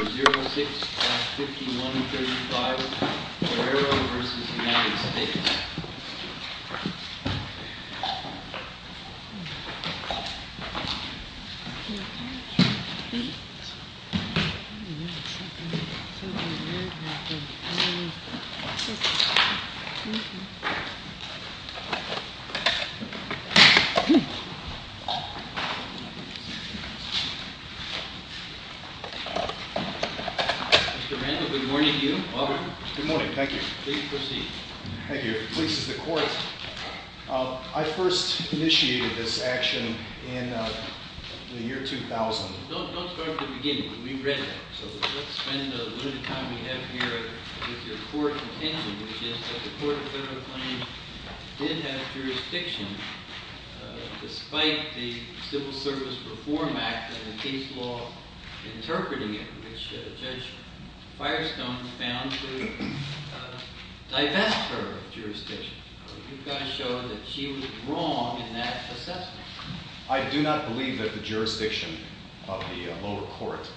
06-5135, Ferreiro v. United States Mr. Randall, good morning to you. Auburn? Good morning. Thank you. Please proceed. Thank you. The police is the court. I first initiated this action in the year 2000. Don't start at the beginning. We've read that. So let's spend a little time we have here with your court contention, which is that the Court of Federal Claims did have jurisdiction, despite the Civil Service Reform Act and the case law interpreting it, which Judge Firestone found to divest her of jurisdiction. You've got to show that she was wrong in that assessment. I do not believe that the jurisdiction of the lower court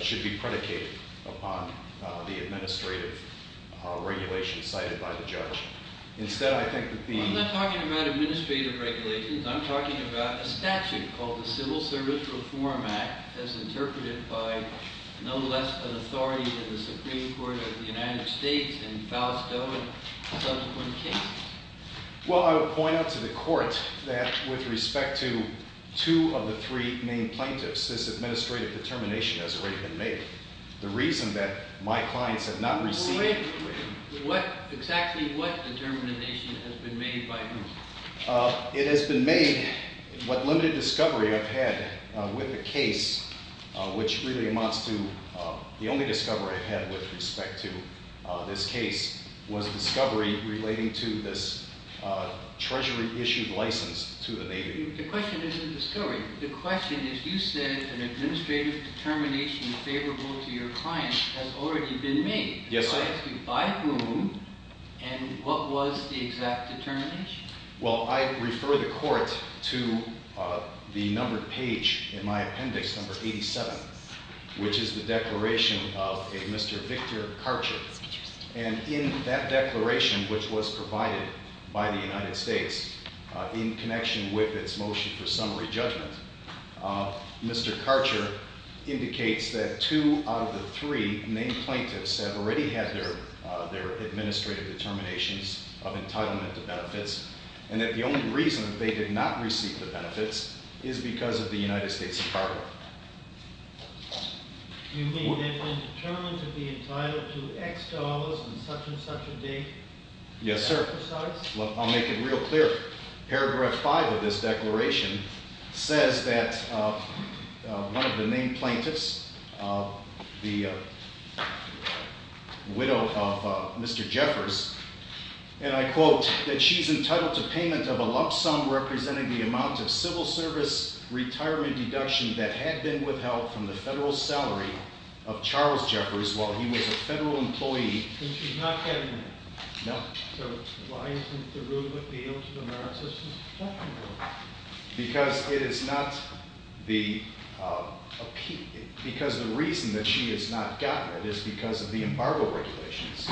should be predicated upon the administrative regulation cited by the judge. Instead, I think that the… I'm not talking about administrative regulations. I'm talking about a statute called the Civil Service Reform Act as interpreted by no less an authority than the Supreme Court of the United States and Falstaff and subsequent cases. Well, I would point out to the court that with respect to two of the three main plaintiffs, this administrative determination has already been made. The reason that my clients have not received… Exactly what determination has been made by whom? It has been made what limited discovery I've had with the case, which really amounts to the only discovery I've had with respect to this case was a discovery relating to this Treasury-issued license to the Navy. The question isn't the discovery. The question is you said an administrative determination favorable to your client has already been made. Yes, sir. By whom and what was the exact determination? Well, I refer the court to the numbered page in my appendix number 87, which is the declaration of a Mr. Victor Karcher. And in that declaration, which was provided by the United States in connection with its motion for summary judgment, Mr. Karcher indicates that two out of the three main plaintiffs have already had their administrative determinations of entitlement to benefits and that the only reason that they did not receive the benefits is because of the United States embargo. You mean they've been determined to be entitled to X dollars and such and such a date? Yes, sir. I'll make it real clear. Paragraph 5 of this declaration says that one of the main plaintiffs, the widow of Mr. Jeffers, and I quote, that she's entitled to payment of a lump sum representing the amount of civil service retirement deduction that had been withheld from the federal salary of Charles Jeffers while he was a federal employee. And she's not getting that? No. So why isn't the rule that the ultimate amount of assistance deductible? Because the reason that she has not gotten it is because of the embargo regulations,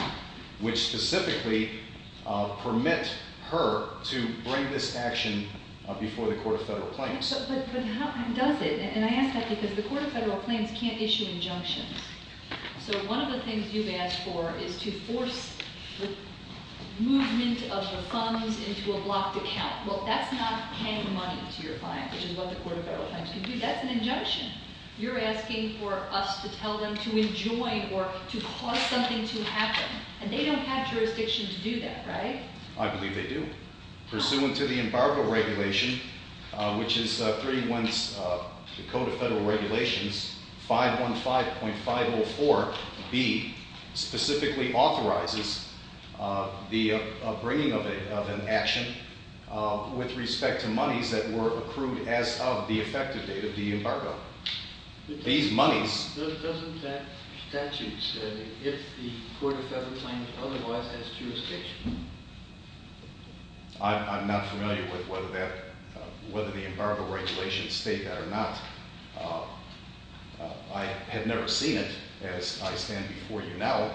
which specifically permit her to bring this action before the Court of Federal Claims. But how does it? And I ask that because the Court of Federal Claims can't issue injunctions. So one of the things you've asked for is to force the movement of the funds into a blocked account. Well, that's not paying the money to your client, which is what the Court of Federal Claims can do. That's an injunction. You're asking for us to tell them to enjoin or to cause something to happen, and they don't have jurisdiction to do that, right? I believe they do. Pursuant to the embargo regulation, which is 3.1 of the Code of Federal Regulations, 515.504B specifically authorizes the bringing of an action with respect to monies that were accrued as of the effective date of the embargo. These monies... Doesn't that statute say, if the Court of Federal Claims otherwise has jurisdiction? I'm not familiar with whether the embargo regulations state that or not. I have never seen it, as I stand before you now,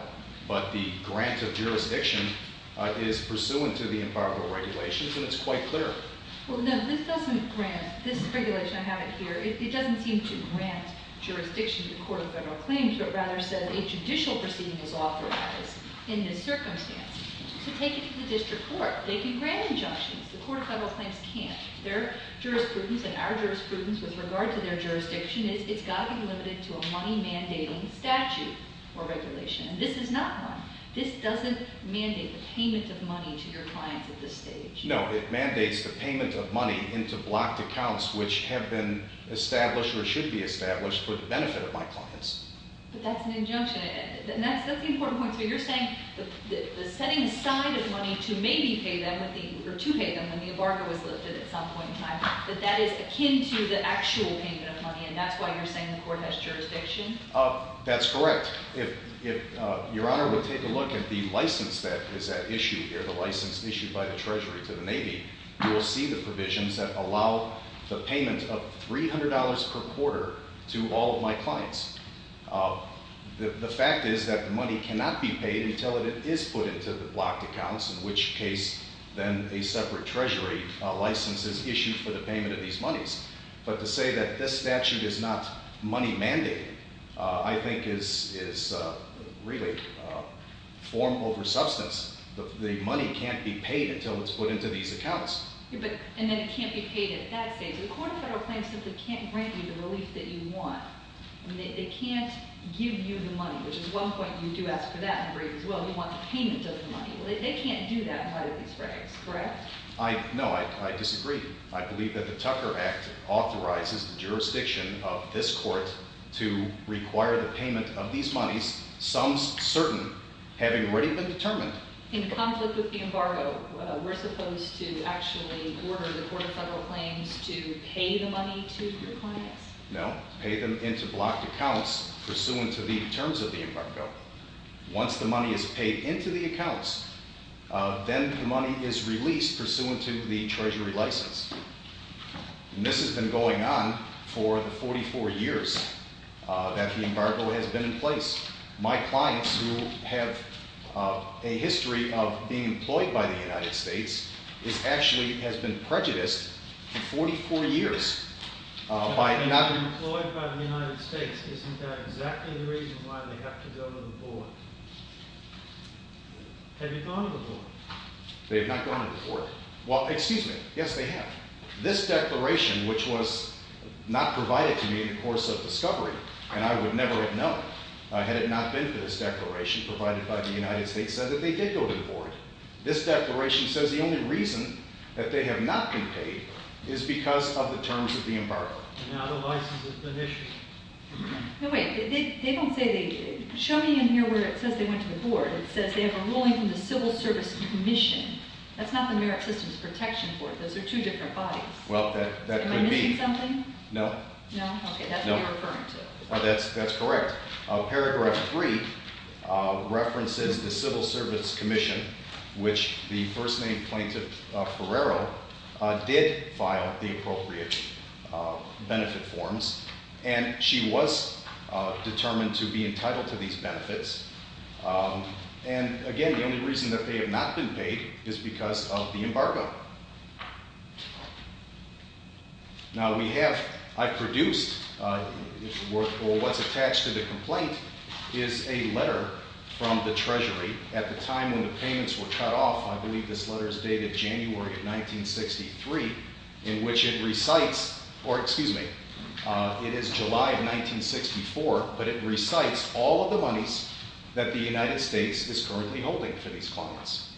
but the grant of jurisdiction is pursuant to the embargo regulations, and it's quite clear. Well, no, this doesn't grant... This regulation, I have it here, it doesn't seem to grant jurisdiction to the Court of Federal Claims, but rather says a judicial proceeding was authorized in this circumstance. To take it to the district court, they can grant injunctions. The Court of Federal Claims can't. Their jurisprudence and our jurisprudence with regard to their jurisdiction is it's got to be limited to a money-mandating statute or regulation, and this is not one. This doesn't mandate the payment of money to your clients at this stage. No, it mandates the payment of money into blocked accounts which have been established or should be established for the benefit of my clients. But that's an injunction, and that's the important point. So you're saying the setting aside of money to maybe pay them, or to pay them when the embargo was lifted at some point in time, that that is akin to the actual payment of money, and that's why you're saying the Court has jurisdiction? That's correct. If Your Honor would take a look at the license that is at issue here, the license issued by the Treasury to the Navy, you will see the provisions that allow the payment of $300 per quarter to all of my clients. The fact is that the money cannot be paid until it is put into the blocked accounts, in which case then a separate Treasury license is issued for the payment of these monies. But to say that this statute is not money-mandating I think is really form over substance. The money can't be paid until it's put into these accounts. And then it can't be paid at that stage. The Court of Federal Claims simply can't grant you the relief that you want. They can't give you the money, which is one point you do ask for that in brief as well. You want the payment of the money. They can't do that in light of these regs, correct? No, I disagree. I believe that the Tucker Act authorizes the jurisdiction of this Court to require the payment of these monies, some certain, having already been determined. In conflict with the embargo, we're supposed to actually order the Court of Federal Claims to pay the money to your clients? No, pay them into blocked accounts pursuant to the terms of the embargo. Once the money is paid into the accounts, then the money is released pursuant to the Treasury license. And this has been going on for the 44 years that the embargo has been in place. My clients who have a history of being employed by the United States actually has been prejudiced for 44 years. By not being employed by the United States, isn't that exactly the reason why they have to go to the board? Have you gone to the board? They have not gone to the board. Well, excuse me. Yes, they have. This declaration, which was not provided to me in the course of discovery, and I would never have known had it not been for this declaration provided by the United States says that they did go to the board. This declaration says the only reason that they have not been paid is because of the terms of the embargo. And now the license has been issued. No, wait. They don't say they did. Show me in here where it says they went to the board. It says they have a ruling from the Civil Service Commission. That's not the Merit Systems Protection Court. Those are two different bodies. Well, that could be. Am I missing something? No. No? Okay. That's what you're referring to. That's correct. Paragraph 3 references the Civil Service Commission, which the first-name plaintiff, Ferrero, did file the appropriate benefit forms, and she was determined to be entitled to these benefits. And, again, the only reason that they have not been paid is because of the embargo. Now we have, I've produced, or what's attached to the complaint, is a letter from the Treasury at the time when the payments were cut off. I believe this letter is dated January of 1963, in which it recites, or excuse me, it is July of 1964, but it recites all of the monies that the United States is currently holding for these clients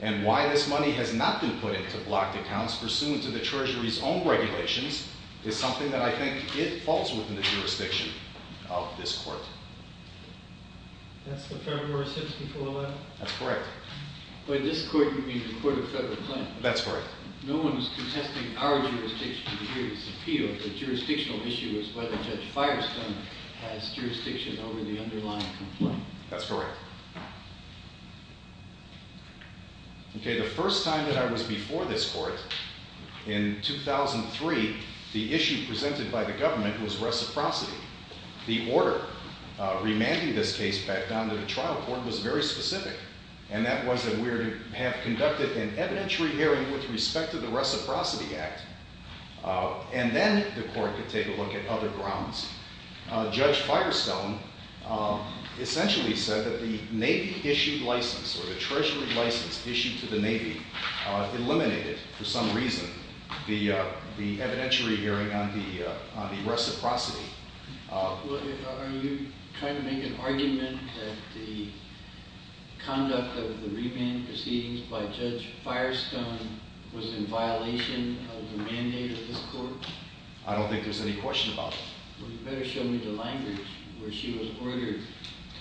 And why this money has not been put into blocked accounts pursuant to the Treasury's own regulations is something that I think it falls within the jurisdiction of this court. That's the Federal Merit System 401? That's correct. By this court, you mean the Court of Federal Claims? That's correct. No one is contesting our jurisdiction to hear this appeal. The jurisdictional issue is whether Judge Firestone has jurisdiction over the underlying complaint. That's correct. Okay, the first time that I was before this court, in 2003, the issue presented by the government was reciprocity. The order remanding this case back down to the trial court was very specific, and that was that we would have conducted an evidentiary hearing with respect to the Reciprocity Act, and then the court could take a look at other grounds. Judge Firestone essentially said that the Navy-issued license or the Treasury license issued to the Navy eliminated, for some reason, the evidentiary hearing on the reciprocity. Are you trying to make an argument that the conduct of the remand proceedings by Judge Firestone was in violation of the mandate of this court? I don't think there's any question about that. Well, you better show me the language where she was ordered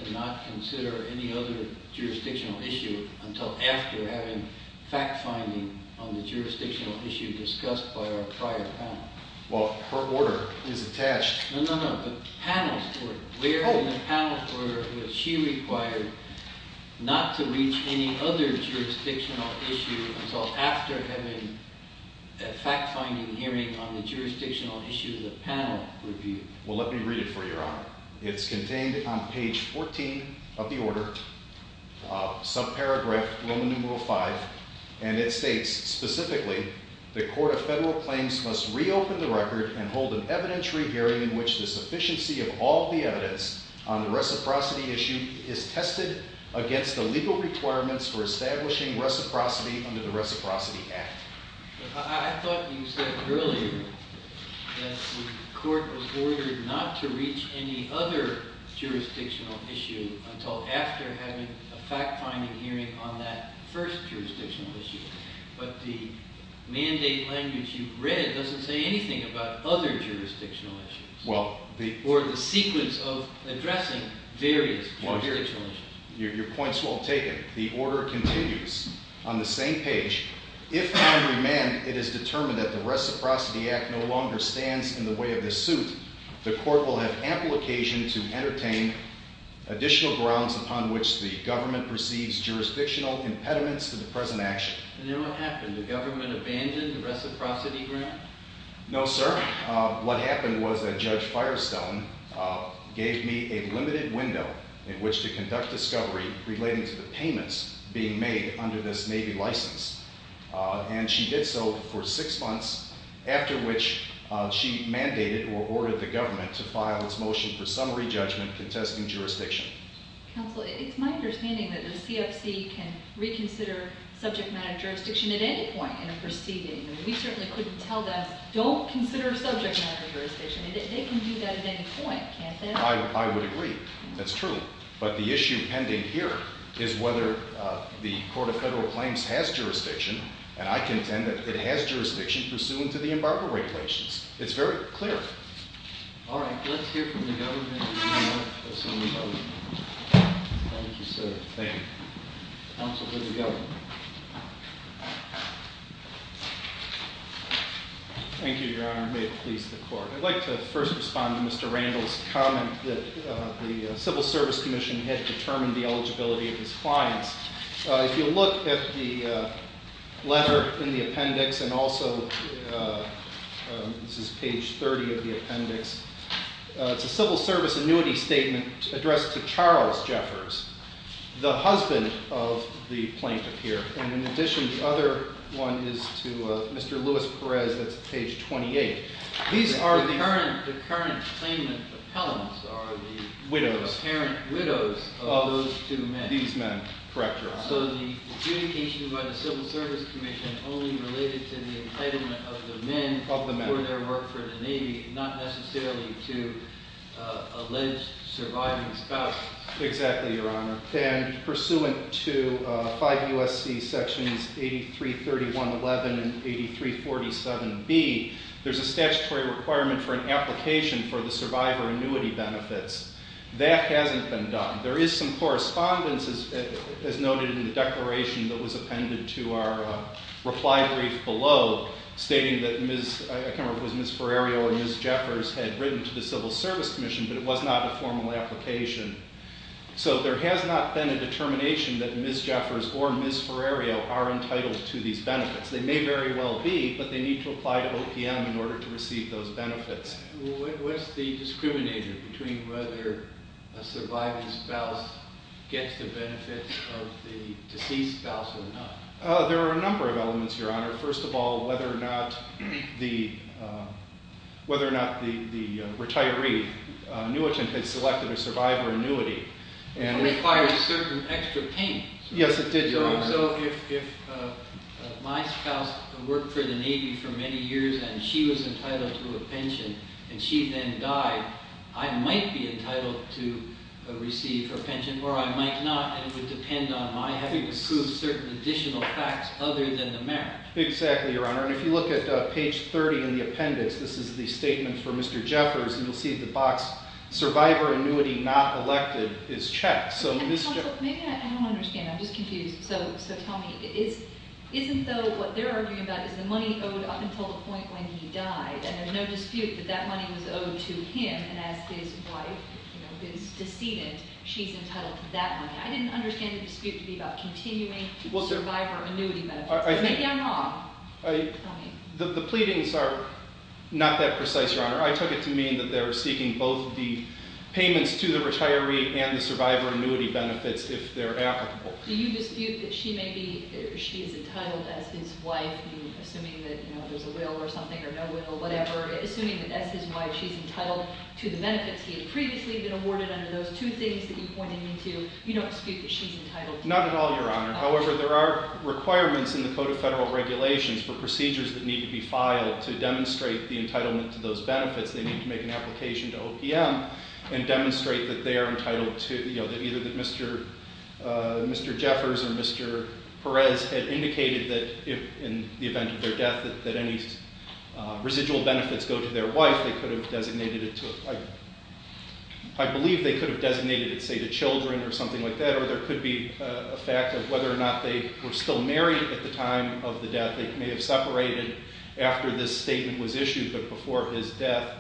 to not consider any other jurisdictional issue until after having fact-finding on the jurisdictional issue discussed by our prior panel. Well, her order is attached. No, no, no, the panel's order. Where in the panel's order was she required not to reach any other jurisdictional issue until after having a fact-finding hearing on the jurisdictional issue the panel reviewed? Well, let me read it for you, Your Honor. It's contained on page 14 of the order, subparagraph Roman numeral 5, and it states specifically, the court of federal claims must reopen the record and hold an evidentiary hearing in which the sufficiency of all the evidence on the reciprocity issue is tested against the legal requirements for establishing reciprocity under the Reciprocity Act. I thought you said earlier that the court was ordered not to reach any other jurisdictional issue until after having a fact-finding hearing on that first jurisdictional issue. But the mandate language you've read doesn't say anything about other jurisdictional issues or the sequence of addressing various jurisdictional issues. Your point's well taken. The order continues. On the same page, if I remand it is determined that the Reciprocity Act no longer stands in the way of this suit, the court will have ample occasion to entertain additional grounds upon which the government perceives jurisdictional impediments to the present action. And then what happened? The government abandoned the reciprocity grant? No, sir. What happened was that Judge Firestone gave me a limited window in which to conduct discovery relating to the payments being made under this Navy license. And she did so for six months, after which she mandated or ordered the government to file its motion for summary judgment contesting jurisdiction. Counsel, it's my understanding that the CFC can reconsider subject matter jurisdiction at any point in a proceeding. We certainly couldn't tell them, don't consider subject matter jurisdiction. They can do that at any point, can't they? I would agree. That's true. But the issue pending here is whether the Court of Federal Claims has jurisdiction, and I contend that it has jurisdiction pursuant to the embargo regulations. It's very clear. All right. Let's hear from the government. Thank you, sir. Thank you. Counsel to the government. Thank you, Your Honor. May it please the Court. I'd like to first respond to Mr. Randall's comment that the Civil Service Commission had determined the eligibility of his clients. If you look at the letter in the appendix, and also this is page 30 of the appendix, it's a Civil Service annuity statement addressed to Charles Jeffers, the husband of the plaintiff here. And in addition, the other one is to Mr. Luis Perez. That's page 28. The current claimant appellants are the apparent widows of those two men. These men. Correct, Your Honor. So the adjudication by the Civil Service Commission only related to the employment of the men for their work for the Navy, not necessarily to alleged surviving spouses. Exactly, Your Honor. And pursuant to 5 U.S.C. Sections 8331.11 and 8347.b, there's a statutory requirement for an application for the survivor annuity benefits. That hasn't been done. There is some correspondence, as noted in the declaration that was appended to our reply brief below, stating that Ms. Ferrerio and Ms. Jeffers had written to the Civil Service Commission, but it was not a formal application. So there has not been a determination that Ms. Jeffers or Ms. Ferrerio are entitled to these benefits. They may very well be, but they need to apply to OPM in order to receive those benefits. What's the discriminator between whether a surviving spouse gets the benefits of the deceased spouse or not? First of all, whether or not the retiree annuitant has selected a survivor annuity. It requires certain extra payments. Yes, it did, Your Honor. So if my spouse worked for the Navy for many years and she was entitled to a pension and she then died, I might be entitled to receive her pension or I might not, I would depend on my having to prove certain additional facts other than the merit. Exactly, Your Honor. And if you look at page 30 in the appendix, this is the statement for Mr. Jeffers, and you'll see the box, Survivor Annuity Not Elected is checked. Maybe I don't understand. I'm just confused. So tell me, isn't though what they're arguing about is the money owed up until the point when he died, and there's no dispute that that money was owed to him, and as his wife, his decedent, she's entitled to that money. I didn't understand the dispute to be about continuing survivor annuity benefits. Maybe I'm wrong. The pleadings are not that precise, Your Honor. I took it to mean that they were seeking both the payments to the retiree and the survivor annuity benefits if they're applicable. Do you dispute that she may be, she's entitled as his wife, assuming that there's a will or something or no will or whatever, assuming that as his wife she's entitled to the benefits he had previously been awarded under those two things that you pointed me to, you don't dispute that she's entitled? Not at all, Your Honor. However, there are requirements in the Code of Federal Regulations for procedures that need to be filed to demonstrate the entitlement to those benefits. They need to make an application to OPM and demonstrate that they are entitled to, you know, that either that Mr. Jeffers or Mr. Perez had indicated that if, in the event of their death, that any residual benefits go to their wife, they could have designated it to, I believe they could have designated it, say, to children or something like that, or there could be a fact of whether or not they were still married at the time of the death. They may have separated after this statement was issued, but before his death.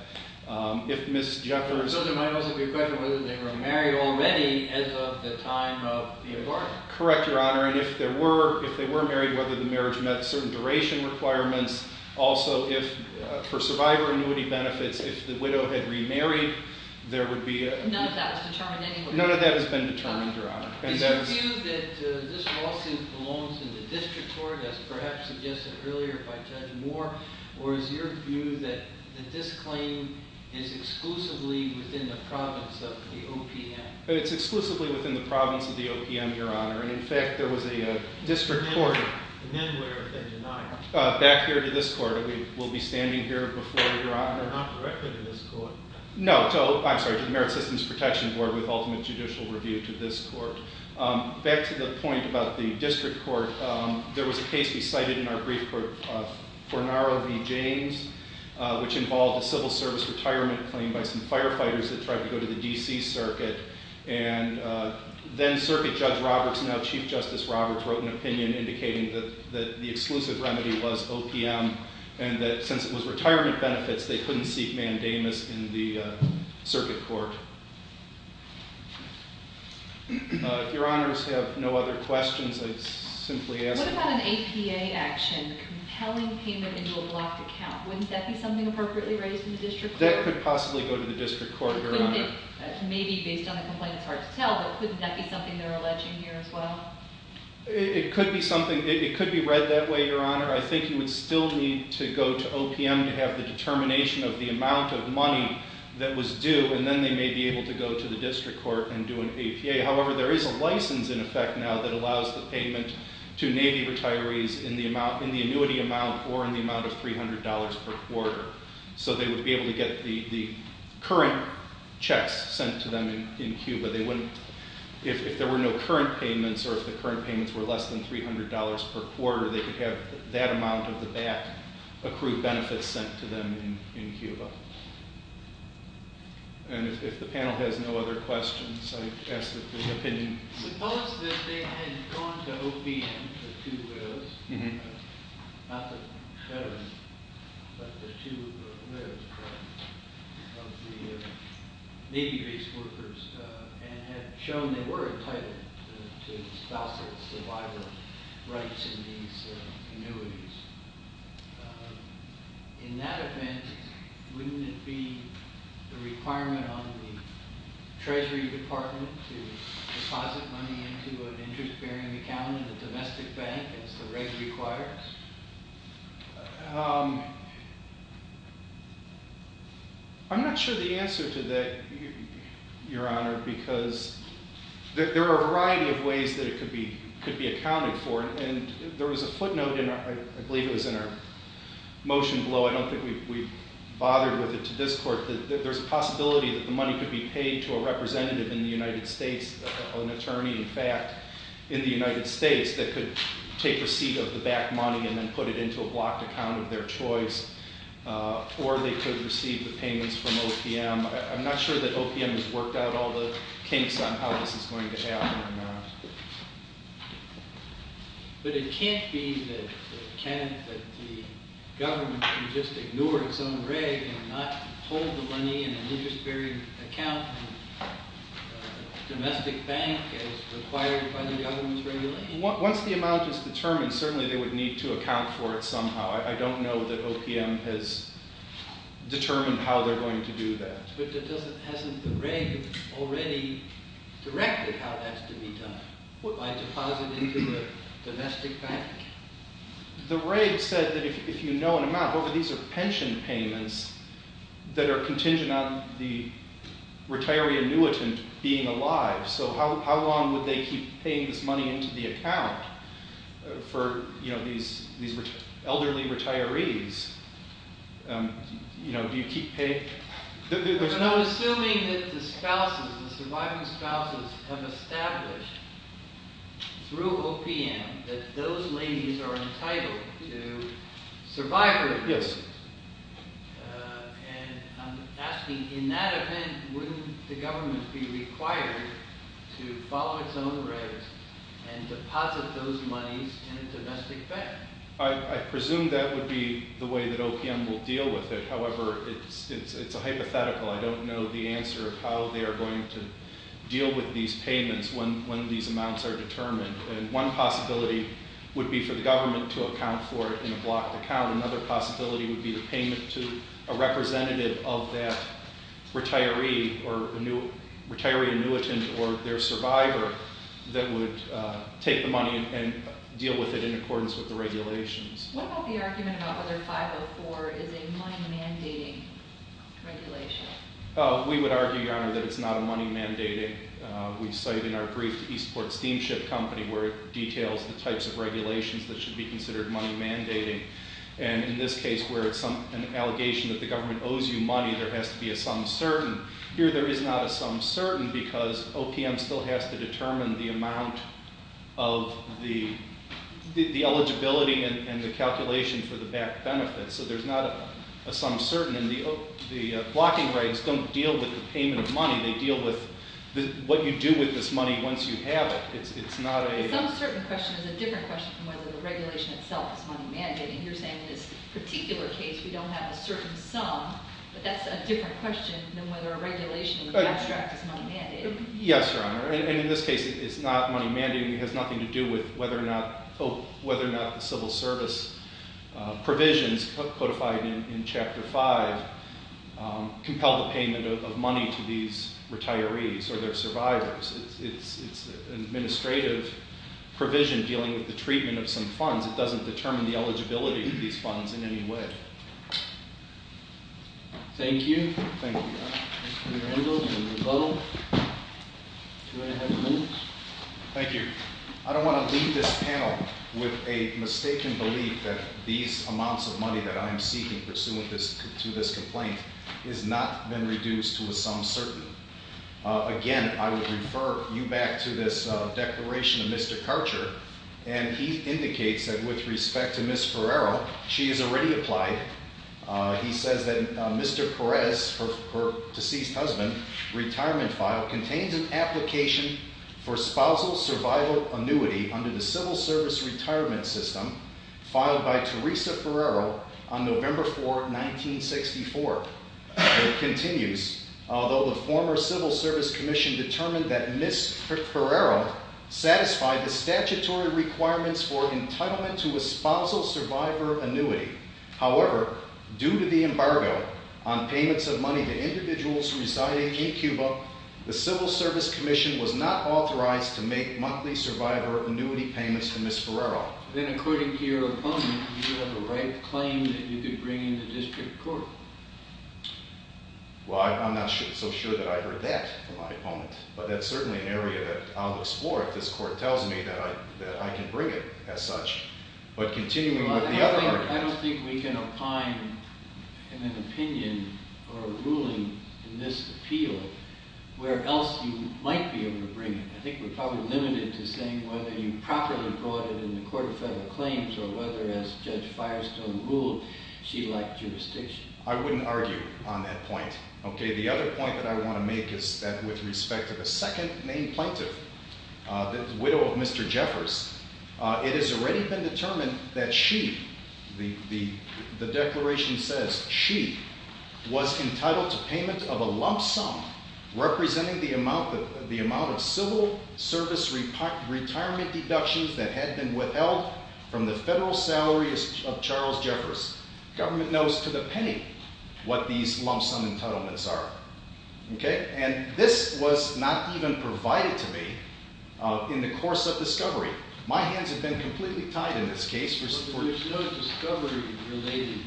If Ms. Jeffers... So there might also be a question of whether they were married already as of the time of the award. Correct, Your Honor. And if they were married, whether the marriage met certain duration requirements, also if, for survivor annuity benefits, if the widow had remarried, there would be a... None of that was determined anyway. None of that has been determined, Your Honor. Is your view that this lawsuit belongs in the district court, as perhaps suggested earlier by Judge Moore, or is your view that this claim is exclusively within the province of the OPM? It's exclusively within the province of the OPM, Your Honor. And, in fact, there was a district court... The men would have been denied. Back here to this court. We'll be standing here before you, Your Honor. Not directly to this court. No, I'm sorry, to the Merit Systems Protection Board with ultimate judicial review to this court. Back to the point about the district court, there was a case we cited in our brief for Naro v. James, which involved a civil service retirement claim by some firefighters that tried to go to the D.C. Circuit. And then Circuit Judge Roberts, now Chief Justice Roberts, wrote an opinion indicating that the exclusive remedy was OPM, and that since it was retirement benefits, they couldn't seek mandamus in the Circuit Court. If Your Honors have no other questions, I'd simply ask... What about an APA action, compelling payment into a blocked account? Wouldn't that be something appropriately raised in the district court? That could possibly go to the district court, Your Honor. Maybe based on the complaint, it's hard to tell, but couldn't that be something they're alleging here as well? It could be something. It could be read that way, Your Honor. I think you would still need to go to OPM to have the determination of the amount of money that was due, and then they may be able to go to the district court and do an APA. However, there is a license in effect now that allows the payment to Navy retirees in the annuity amount or in the amount of $300 per quarter. So they would be able to get the current checks sent to them in Cuba. If there were no current payments or if the current payments were less than $300 per quarter, they could have that amount of the back accrued benefits sent to them in Cuba. And if the panel has no other questions, I'd ask for an opinion. Suppose that they had gone to OPM, the two wills, not the veterans, but the two wills of the Navy-based workers, and had shown they were entitled to spousal survival rights in these annuities. In that event, wouldn't it be the requirement on the Treasury Department to deposit money into an interest-bearing account in the domestic bank as the reg requires? I'm not sure the answer to that, Your Honor, because there are a variety of ways that it could be accounted for. And there was a footnote, I believe it was in our motion below, I don't think we bothered with it to this court, that there's a possibility that the money could be paid to a representative in the United States, an attorney, in fact, in the United States, that could take receipt of the back money and then put it into a blocked account of their choice, or they could receive the payments from OPM. I'm not sure that OPM has worked out all the kinks on how this is going to happen or not. But it can't be that the government can just ignore its own reg and not hold the money in an interest-bearing account in a domestic bank as required by the government's regulations. Once the amount is determined, certainly they would need to account for it somehow. I don't know that OPM has determined how they're going to do that. But hasn't the reg already directed how that's to be done? By depositing to the domestic bank? The reg said that if you know an amount, what if these are pension payments that are contingent on the retiree annuitant being alive, so how long would they keep paying this money into the account for these elderly retirees? Do you keep paying? But I'm assuming that the surviving spouses have established through OPM that those ladies are entitled to survive with them. Yes. And I'm asking, in that event, wouldn't the government be required to follow its own regs and deposit those monies in a domestic bank? I presume that would be the way that OPM will deal with it. However, it's a hypothetical. I don't know the answer of how they're going to deal with these payments when these amounts are determined. And one possibility would be for the government to account for it in a blocked account. Another possibility would be the payment to a representative of that retiree or retiree annuitant or their survivor that would take the money and deal with it in accordance with the regulations. What about the argument about whether 504 is a money-mandating regulation? We would argue, Your Honor, that it's not a money-mandating. We cite in our brief to Eastport Steamship Company where it details the types of regulations that should be considered money-mandating. And in this case where it's an allegation that the government owes you money, there has to be a sum certain. Here there is not a sum certain because OPM still has to determine the amount of the eligibility and the calculation for the back benefit, so there's not a sum certain. And the blocking rights don't deal with the payment of money. They deal with what you do with this money once you have it. It's not a – A sum certain question is a different question from whether the regulation itself is money-mandating. You're saying in this particular case we don't have a certain sum, but that's a different question than whether a regulation in the abstract is money-mandating. Yes, Your Honor, and in this case it's not money-mandating. It has nothing to do with whether or not the civil service provisions codified in Chapter 5 compel the payment of money to these retirees or their survivors. It's an administrative provision dealing with the treatment of some funds. It doesn't determine the eligibility of these funds in any way. Thank you. Thank you, Your Honor. Mr. Randall and Ms. Butler, two and a half minutes. Thank you. I don't want to leave this panel with a mistaken belief that these amounts of money that I am seeking pursuant to this complaint has not been reduced to a sum certain. Again, I would refer you back to this declaration of Mr. Karcher, and he indicates that with respect to Ms. Ferraro, she has already applied. He says that Mr. Perez, her deceased husband, retirement file, contains an application for spousal survival annuity under the civil service retirement system filed by Teresa Ferraro on November 4, 1964. It continues, although the former Civil Service Commission determined that Ms. Ferraro satisfied the statutory requirements for entitlement to a spousal survivor annuity. However, due to the embargo on payments of money to individuals residing in Cuba, the Civil Service Commission was not authorized to make monthly survivor annuity payments to Ms. Ferraro. Then according to your opponent, you have a right claim that you could bring into district court. Well, I'm not so sure that I heard that from my opponent, but that's certainly an area that I'll explore if this court tells me that I can bring it as such. I don't think we can opine in an opinion or a ruling in this appeal where else you might be able to bring it. I think we're probably limited to saying whether you properly brought it in the court of federal claims or whether, as Judge Firestone ruled, she lacked jurisdiction. I wouldn't argue on that point. Okay, the other point that I want to make is that with respect to the second named plaintiff, the widow of Mr. Jeffers, it has already been determined that she, the declaration says she, was entitled to payment of a lump sum representing the amount of civil service retirement deductions that had been withheld from the federal salaries of Charles Jeffers. Government knows to the penny what these lump sum entitlements are. And this was not even provided to me in the course of discovery. My hands have been completely tied in this case. But there's no discovery-related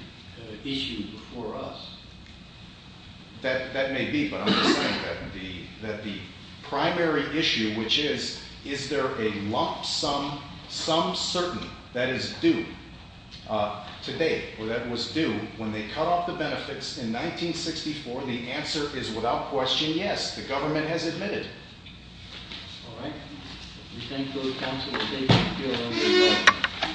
issue before us. That may be, but I'm just saying that the primary issue, which is, is there a lump sum, some certain, that is due to date, or that was due, and when they cut off the benefits in 1964, the answer is, without question, yes. The government has admitted. All right? We thank you for your consultation. Thank you.